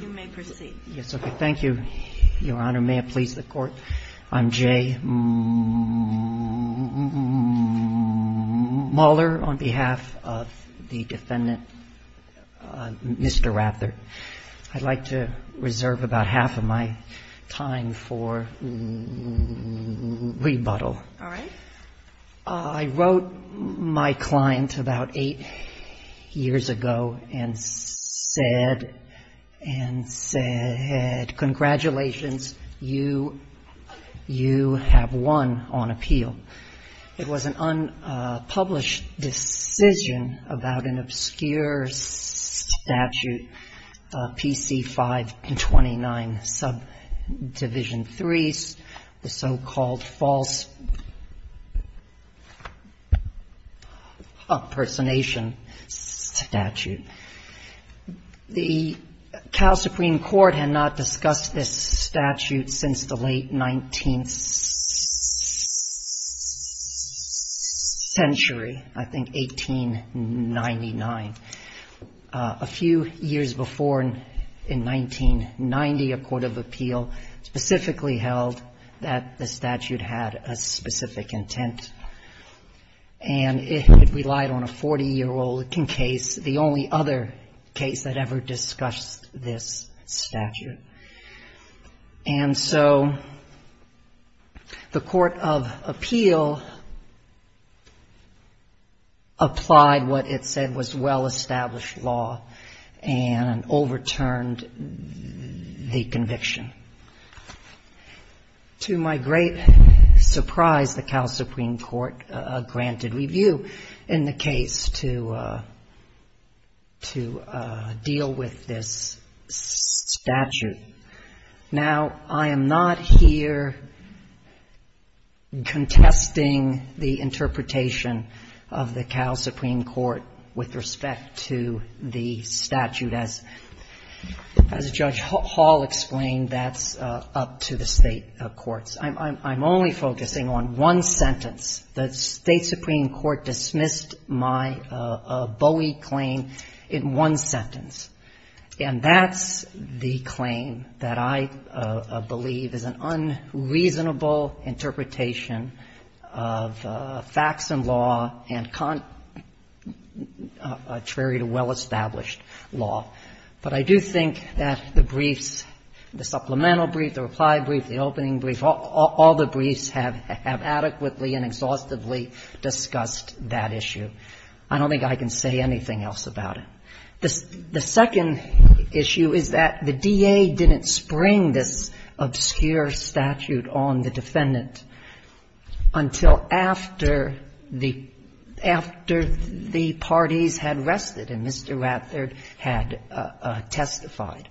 You may proceed. Yes, okay. Thank you, Your Honor. May it please the Court, I'm Jay Muller on behalf of the defendant, Mr. Rather. I'd like to reserve about half of my time for rebuttal. All right. I wrote my client about eight years ago and said, congratulations, you have won on appeal. It was an unpublished decision about an obscure statute, PC 529, subdivision 3, the so-called false impersonation statute. The Cal Supreme Court had not discussed this statute since the late 19th century, I think 1899. A few years before, in 1990, a court of appeal specifically held that the statute had a specific intent. And it relied on a 40-year-old case, the only other case that ever discussed this statute. And so the court of appeal applied what it said was well-established law and overturned the conviction. To my great surprise, the Cal Supreme Court granted review in the case to deal with this statute. Now, I am not here contesting the interpretation of the Cal Supreme Court with respect to the statute. As Judge Hall explained, that's up to the State courts. I'm only focusing on one sentence. The State Supreme Court dismissed my Bowie claim in one sentence, and that's the claim that I believe is an unreasonable interpretation of facts and law and contrary to well-established But I do think that the briefs, the supplemental brief, the reply brief, the opening brief, all the briefs have adequately and exhaustively discussed that issue. I don't think I can say anything else about it. The second issue is that the DA didn't spring this obscure statute on the defendant until after the parties had rested and Mr. Raffert had testified.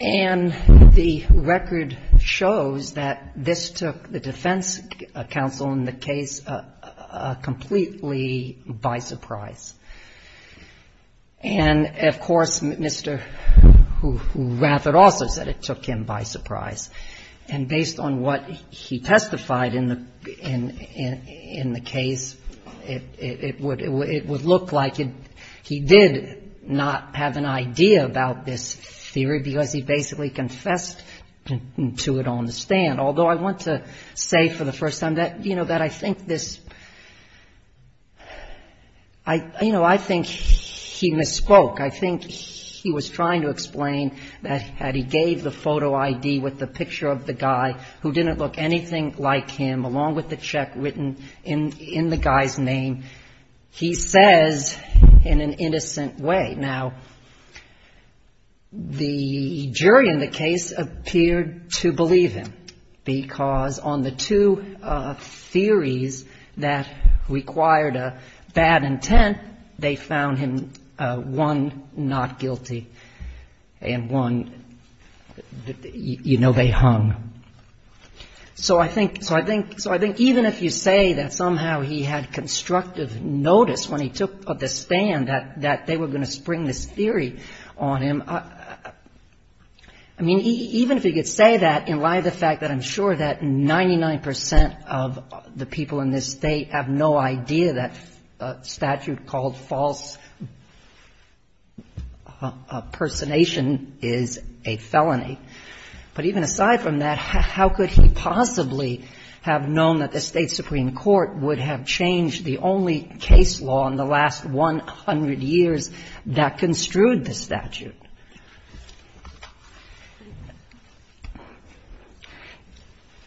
And the record shows that this took the defense counsel in the case completely by surprise. And, of course, Mr. Raffert also said it took him by surprise. And based on what he testified in the case, it would look like he did not have an idea about this theory because he basically confessed to it on the stand. Although I want to say for the first time that, you know, that I think this — you know, I think he misspoke. I think he was trying to explain that had he gave the photo ID with the picture of the guy who didn't look anything like him, along with the check written in the guy's name, he says in an innocent way. Now, the jury in the case appeared to believe him because on the two theories that required a bad intent, they found him, one, not guilty, and one, you know, they hung. So I think even if you say that somehow he had constructive notice when he took the stand that they were going to spring this theory on him, I mean, even if he could say that in light of the fact that I'm sure that 99 percent of the people in this State have no idea that a statute called false impersonation is a felony. But even aside from that, how could he possibly have known that the State supreme court would have changed the only case law in the last 100 years that construed the statute?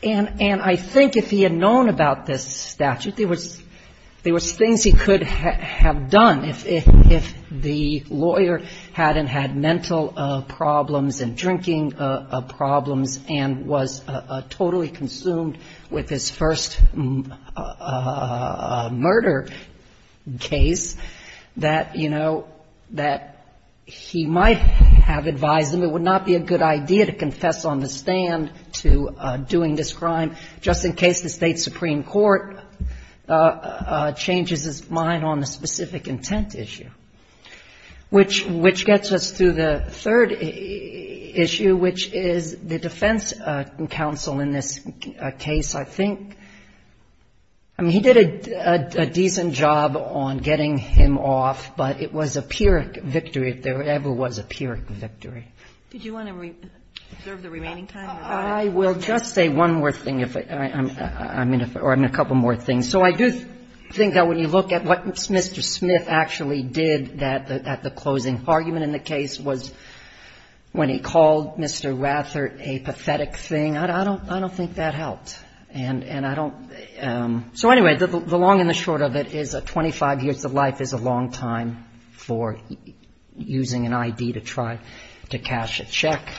And I think if he had known about this statute, there was things he could have done. If the lawyer hadn't had mental problems and drinking problems and was totally consumed with his first murder case, that, you know, that he might have known that and have advised him, it would not be a good idea to confess on the stand to doing this crime just in case the State supreme court changes its mind on the specific intent issue. Which gets us to the third issue, which is the defense counsel in this case. I think, I mean, he did a decent job on getting him off, but it was a pure victory if there ever was a pure victory. Did you want to reserve the remaining time? I will just say one more thing, or a couple more things. So I do think that when you look at what Mr. Smith actually did at the closing argument in the case was when he called Mr. Rather a pathetic thing. I don't think that helped. And I don't so anyway, the long and the short of it is that 25 years of life is a long time for using an ID to try to cash a check.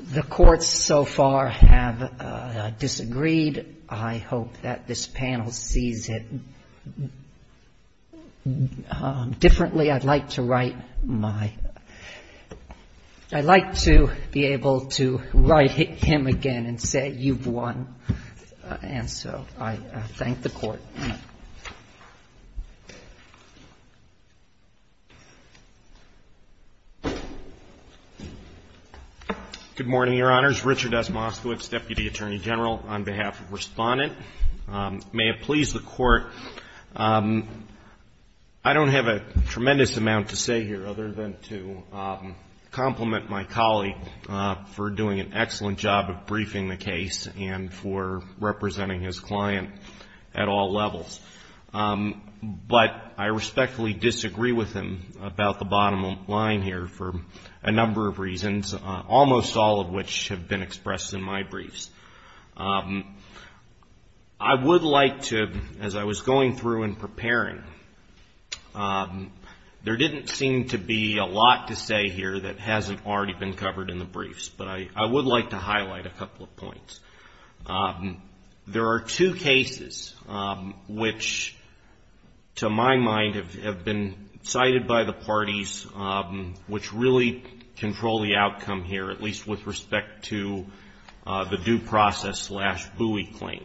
The courts so far have disagreed. I hope that this panel sees it differently. I'd like to write my, I'd like to be able to write him again and say you've won. And so I thank the court. Good morning, Your Honors. Richard S. Moskowitz, Deputy Attorney General, on behalf of Respondent. May it please the Court. I don't have a tremendous amount to say here other than to compliment my colleague for doing an excellent job of briefing the case and for representing his client at all levels. But I respectfully disagree with him about the bottom line here for a number of reasons, almost all of which have been expressed in my briefs. I would like to, as I was going through and preparing, there didn't seem to be a lot to say here that hasn't already been covered in the briefs. But I would like to highlight a couple of points. There are two cases which, to my mind, have been cited by the parties which really control the outcome here, at least with respect to the due process slash buoy claim.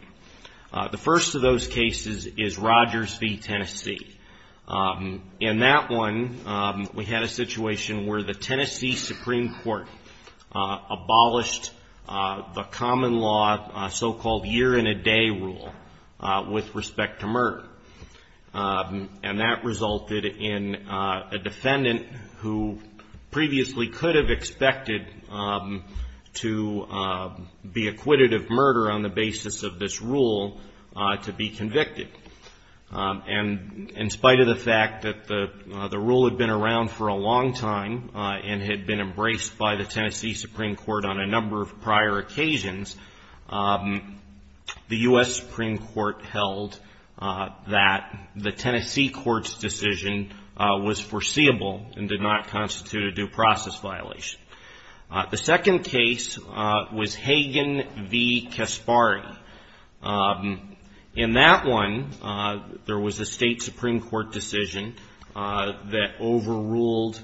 The first of those cases is Rogers v. Tennessee. In that one, we had a situation where the Tennessee Supreme Court abolished the common law so-called year-in-a-day rule with respect to murder. And that resulted in a defendant who previously could have expected to be acquitted of murder on the basis of this rule to be convicted. And in spite of the fact that the rule had been around for a long time and had been embraced by the Tennessee Supreme Court on a number of prior occasions, the U.S. Supreme Court held that the Tennessee Court's decision was foreseeable and did not constitute a due process violation. The second case was Hagen v. Kaspari. In that one, there was a state Supreme Court decision that overruled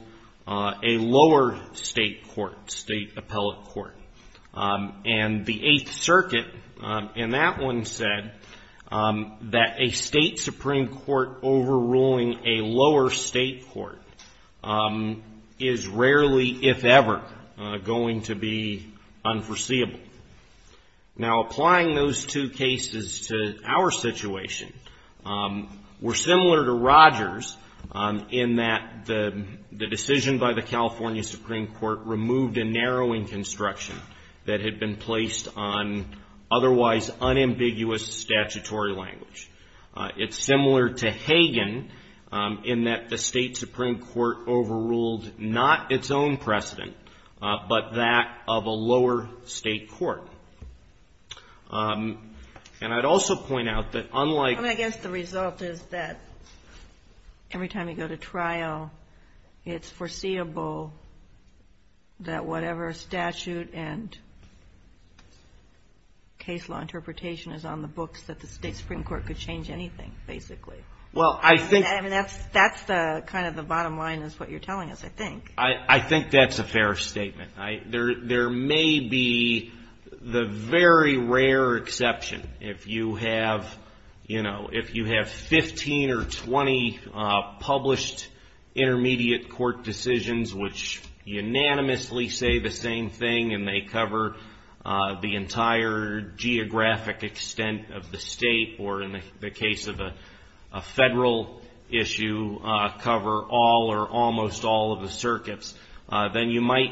a lower state court, state appellate court. And the Eighth Circuit in that one said that a state Supreme Court overruling a lower state court is rarely, if ever, going to be unforeseeable. Now, applying those two cases to our situation, we're similar to Rogers in that the decision by the California Supreme Court removed a narrowing construction that had been placed on otherwise unambiguous statutory language. It's similar to Hagen in that the state Supreme Court overruled not its own precedent but that of a lower state court. And I'd also point out that unlike... I mean, I guess the result is that every time you go to trial, it's foreseeable that whatever statute and case law interpretation is on the books, that the state Supreme Court could change anything, basically. Well, I think... I mean, that's kind of the bottom line is what you're telling us, I think. I think that's a fair statement. There may be the very rare exception. If you have 15 or 20 published intermediate court decisions which unanimously say the same thing and they cover the entire geographic extent of the state or in the case of a federal issue, cover all or almost all of the circuits, then you might,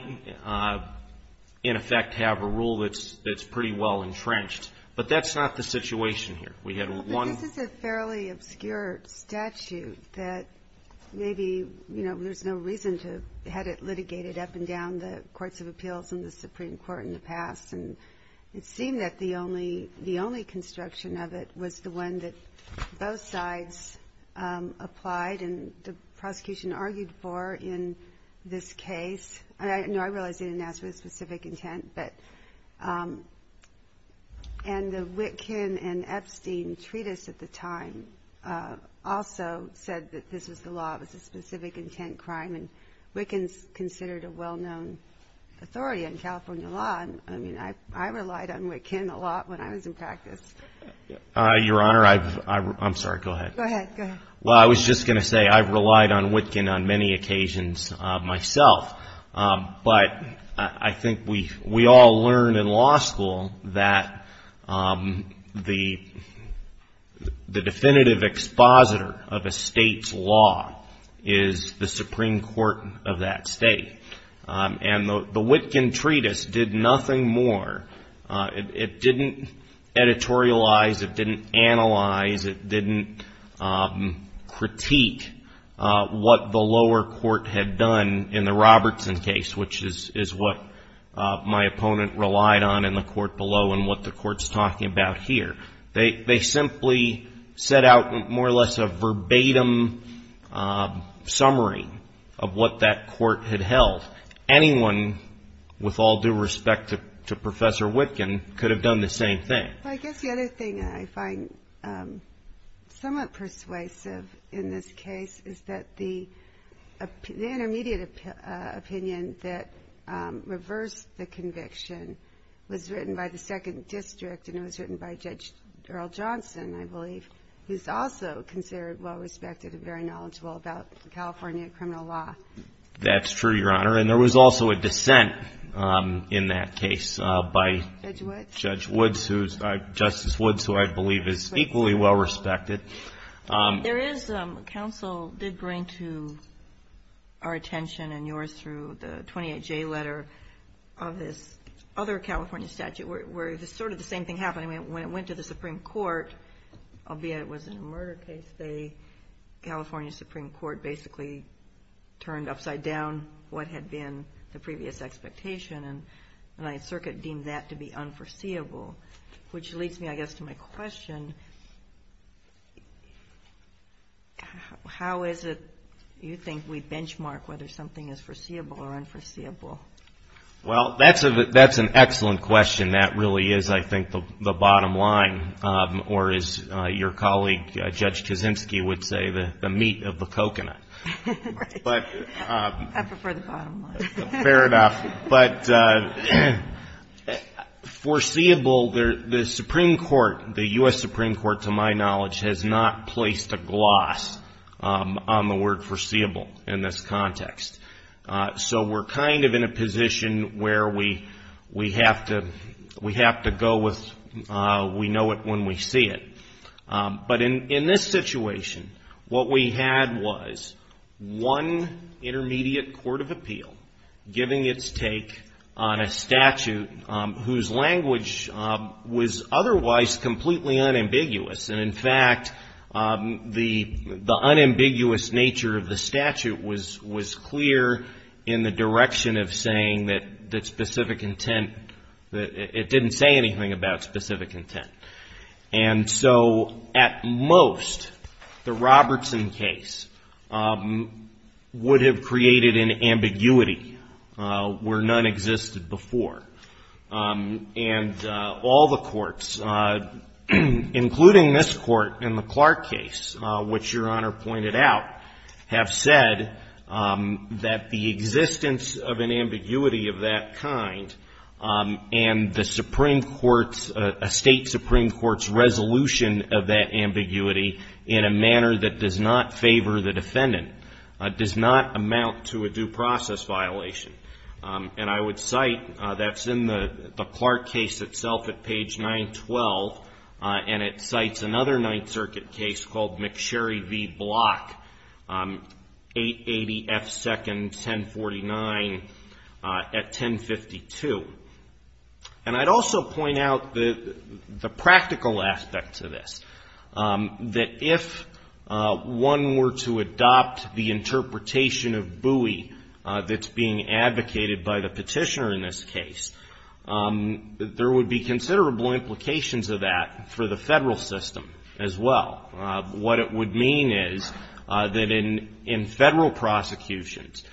in effect, have a rule that's pretty well entrenched. But that's not the situation here. We had one... But this is a fairly obscure statute that maybe, you know, there's no reason to have it litigated up and down the courts of appeals and the Supreme Court in the past. It seemed that the only construction of it was the one that both sides applied and the prosecution argued for in this case. I realize they didn't ask for a specific intent, and the Wittgen and Epstein treatise at the time also said that this was the law. It was a specific intent crime, and Wittgen's considered a well-known authority on California law. I mean, I relied on Wittgen a lot when I was in practice. Your Honor, I've... I'm sorry. Go ahead. Go ahead. Well, I was just going to say I've relied on Wittgen on many occasions myself. But I think we all learned in law school that the definitive expositor of a state's law is the Supreme Court of that state. And the Wittgen treatise did nothing more. It didn't editorialize. It didn't analyze. It didn't critique what the lower court had done in the Robertson case, which is what my opponent relied on in the court below and what the court's talking about here. They simply set out more or less a verbatim summary of what that court had held. Anyone with all due respect to Professor Wittgen could have done the same thing. Well, I guess the other thing I find somewhat persuasive in this case is that the intermediate opinion that reversed the conviction was written by the second district, and it was written by Judge Earl Johnson, I believe, who's also considered well-respected and very knowledgeable about California criminal law. That's true, Your Honor. And there was also a dissent in that case by Judge Woods, Justice Woods, who I believe is equally well-respected. Counsel did bring to our attention and yours through the 28J letter of this other California statute where sort of the same thing happened. When it went to the Supreme Court, albeit it was a murder case, the California Supreme Court basically turned upside down what had been the previous expectation, and the Ninth Circuit deemed that to be unforeseeable, which leads me, I guess, to my question. How is it you think we benchmark whether something is foreseeable or unforeseeable? Well, that's an excellent question. That really is, I think, the bottom line, or as your colleague, Judge Kaczynski, would say, the meat of the coconut. Right. I prefer the bottom line. Fair enough. But foreseeable, the Supreme Court, the U.S. Supreme Court, to my knowledge, has not placed a gloss on the word foreseeable in this context. So we're kind of in a position where we have to go with we know it when we see it. But in this situation, what we had was one intermediate court of appeal giving its take on a statute whose language was otherwise completely unambiguous. And, in fact, the unambiguous nature of the statute was clear in the direction of saying that specific intent, it didn't say anything about specific intent. And so, at most, the Robertson case would have created an ambiguity where none existed before. And all the courts, including this court in the Clark case, which Your Honor pointed out, have said that the existence of an ambiguity of that kind and the Supreme Court's, a State Supreme Court's resolution of that ambiguity in a manner that does not favor the defendant, does not amount to a due process violation. And I would cite, that's in the Clark case itself at page 912, and it cites another Ninth Circuit case called McSherry v. Block, 880 F. Second, 1049 at 1052. And I'd also point out the practical aspect to this, that if one were to adopt the interpretation of Bowie that's being advocated by the petitioner in this case, there would be considerable implications of that for the federal system as well. What it would mean is that in federal prosecutions,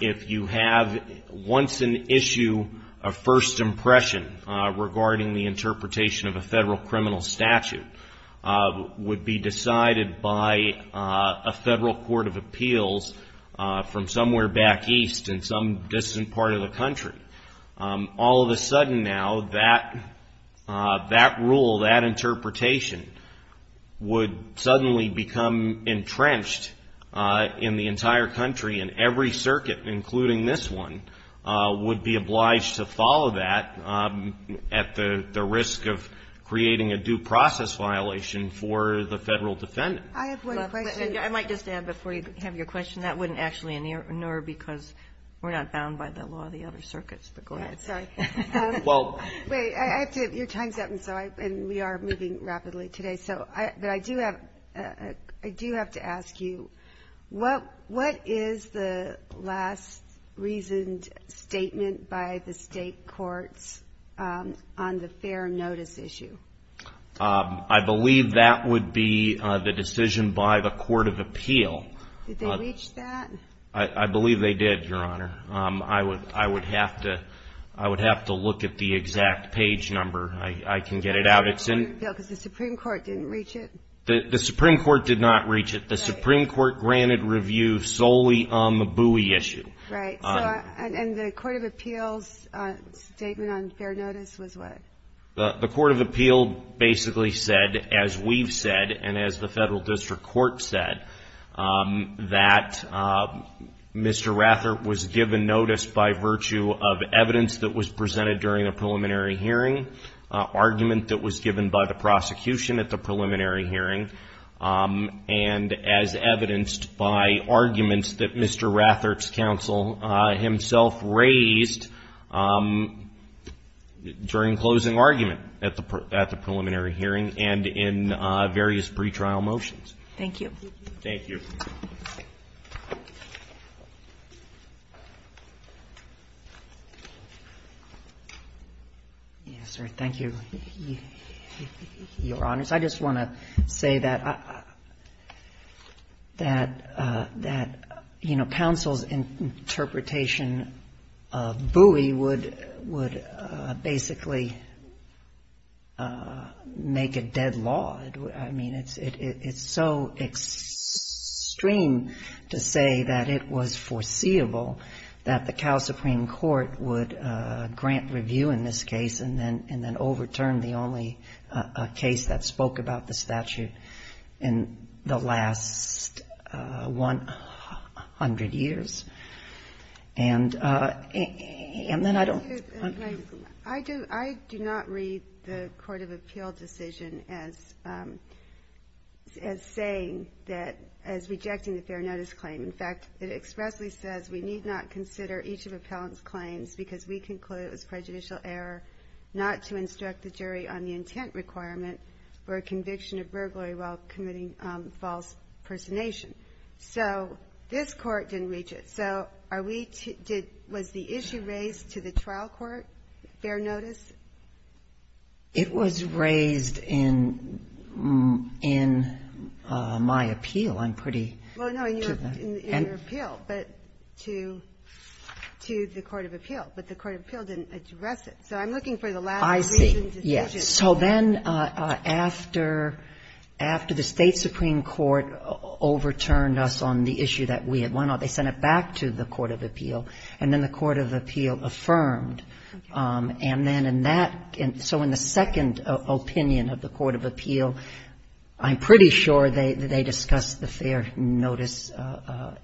if you have once an issue of first impression regarding the interpretation of a federal criminal statute, would be decided by a federal court of appeals from somewhere back east in some distant part of the country. All of a sudden now, that rule, that interpretation, would suddenly become entrenched in the entire country and every circuit, including this one, would be obliged to follow that at the risk of creating a due process violation for the federal defendant. I have one question. I might just add, before you have your question, that wouldn't actually inert because we're not bound by the law of the other circuits. But go ahead. Sorry. Wait. Your time's up, and we are moving rapidly today. But I do have to ask you, what is the last reasoned statement by the state courts on the fair notice issue? I believe that would be the decision by the court of appeal. Did they reach that? I believe they did, Your Honor. I would have to look at the exact page number. I can get it out. Because the Supreme Court didn't reach it? The Supreme Court did not reach it. The Supreme Court granted review solely on the Bowie issue. Right. And the court of appeals statement on fair notice was what? The court of appeal basically said, as we've said and as the federal district court said, that Mr. Rathert was given notice by virtue of evidence that was presented during a preliminary hearing, argument that was given by the prosecution at the preliminary hearing, and as evidenced by arguments that Mr. Rathert's counsel himself raised during closing argument at the preliminary hearing and in various pretrial motions. Thank you. Thank you. Thank you, Your Honors. I just want to say that, you know, counsel's interpretation of Bowie would basically make a dead law. I mean, it's so extreme to say that it was foreseeable that the Cal Supreme Court would grant review in this case and then overturn the only case that spoke about the statute in the last 100 years. And then I don't. I do not read the court of appeal decision as saying that, as rejecting the fair notice claim. In fact, it expressly says we need not consider each of appellant's claims because we conclude it was prejudicial error not to instruct the jury on the intent requirement for a conviction of burglary while committing false impersonation. So this court didn't reach it. So are we to did was the issue raised to the trial court, fair notice? It was raised in my appeal. I'm pretty. Well, no, in your appeal, but to the court of appeal. But the court of appeal didn't address it. So I'm looking for the last reason to suggest that. I see, yes. So then after the State Supreme Court overturned us on the issue that we had won, they sent it back to the court of appeal, and then the court of appeal affirmed. And then in that, so in the second opinion of the court of appeal, I'm pretty sure they discussed the fair notice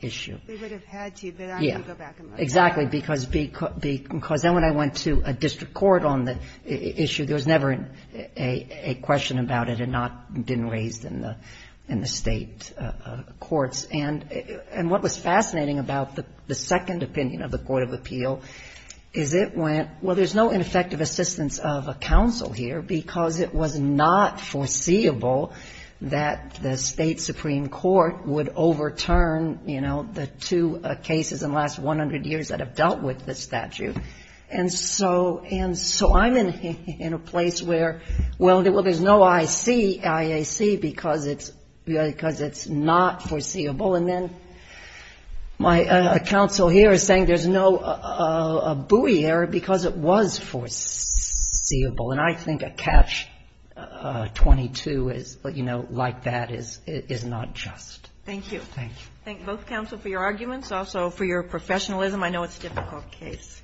issue. They would have had to, but I'm going to go back and look. Exactly, because then when I went to a district court on the issue, there was never a question about it and not been raised in the State courts. And what was fascinating about the second opinion of the court of appeal is it went, well, there's no ineffective assistance of a counsel here because it was not foreseeable that the State Supreme Court would overturn, you know, the two cases in the last 100 years that have dealt with the statute. And so I'm in a place where, well, there's no IC, IAC, because it's not foreseeable. And then my counsel here is saying there's no buoy there because it was foreseeable. And I think a catch-22 is, you know, like that, is not just. Thank you. Thank you. Thank you both, counsel, for your arguments, also for your professionalism. I know it's a difficult case.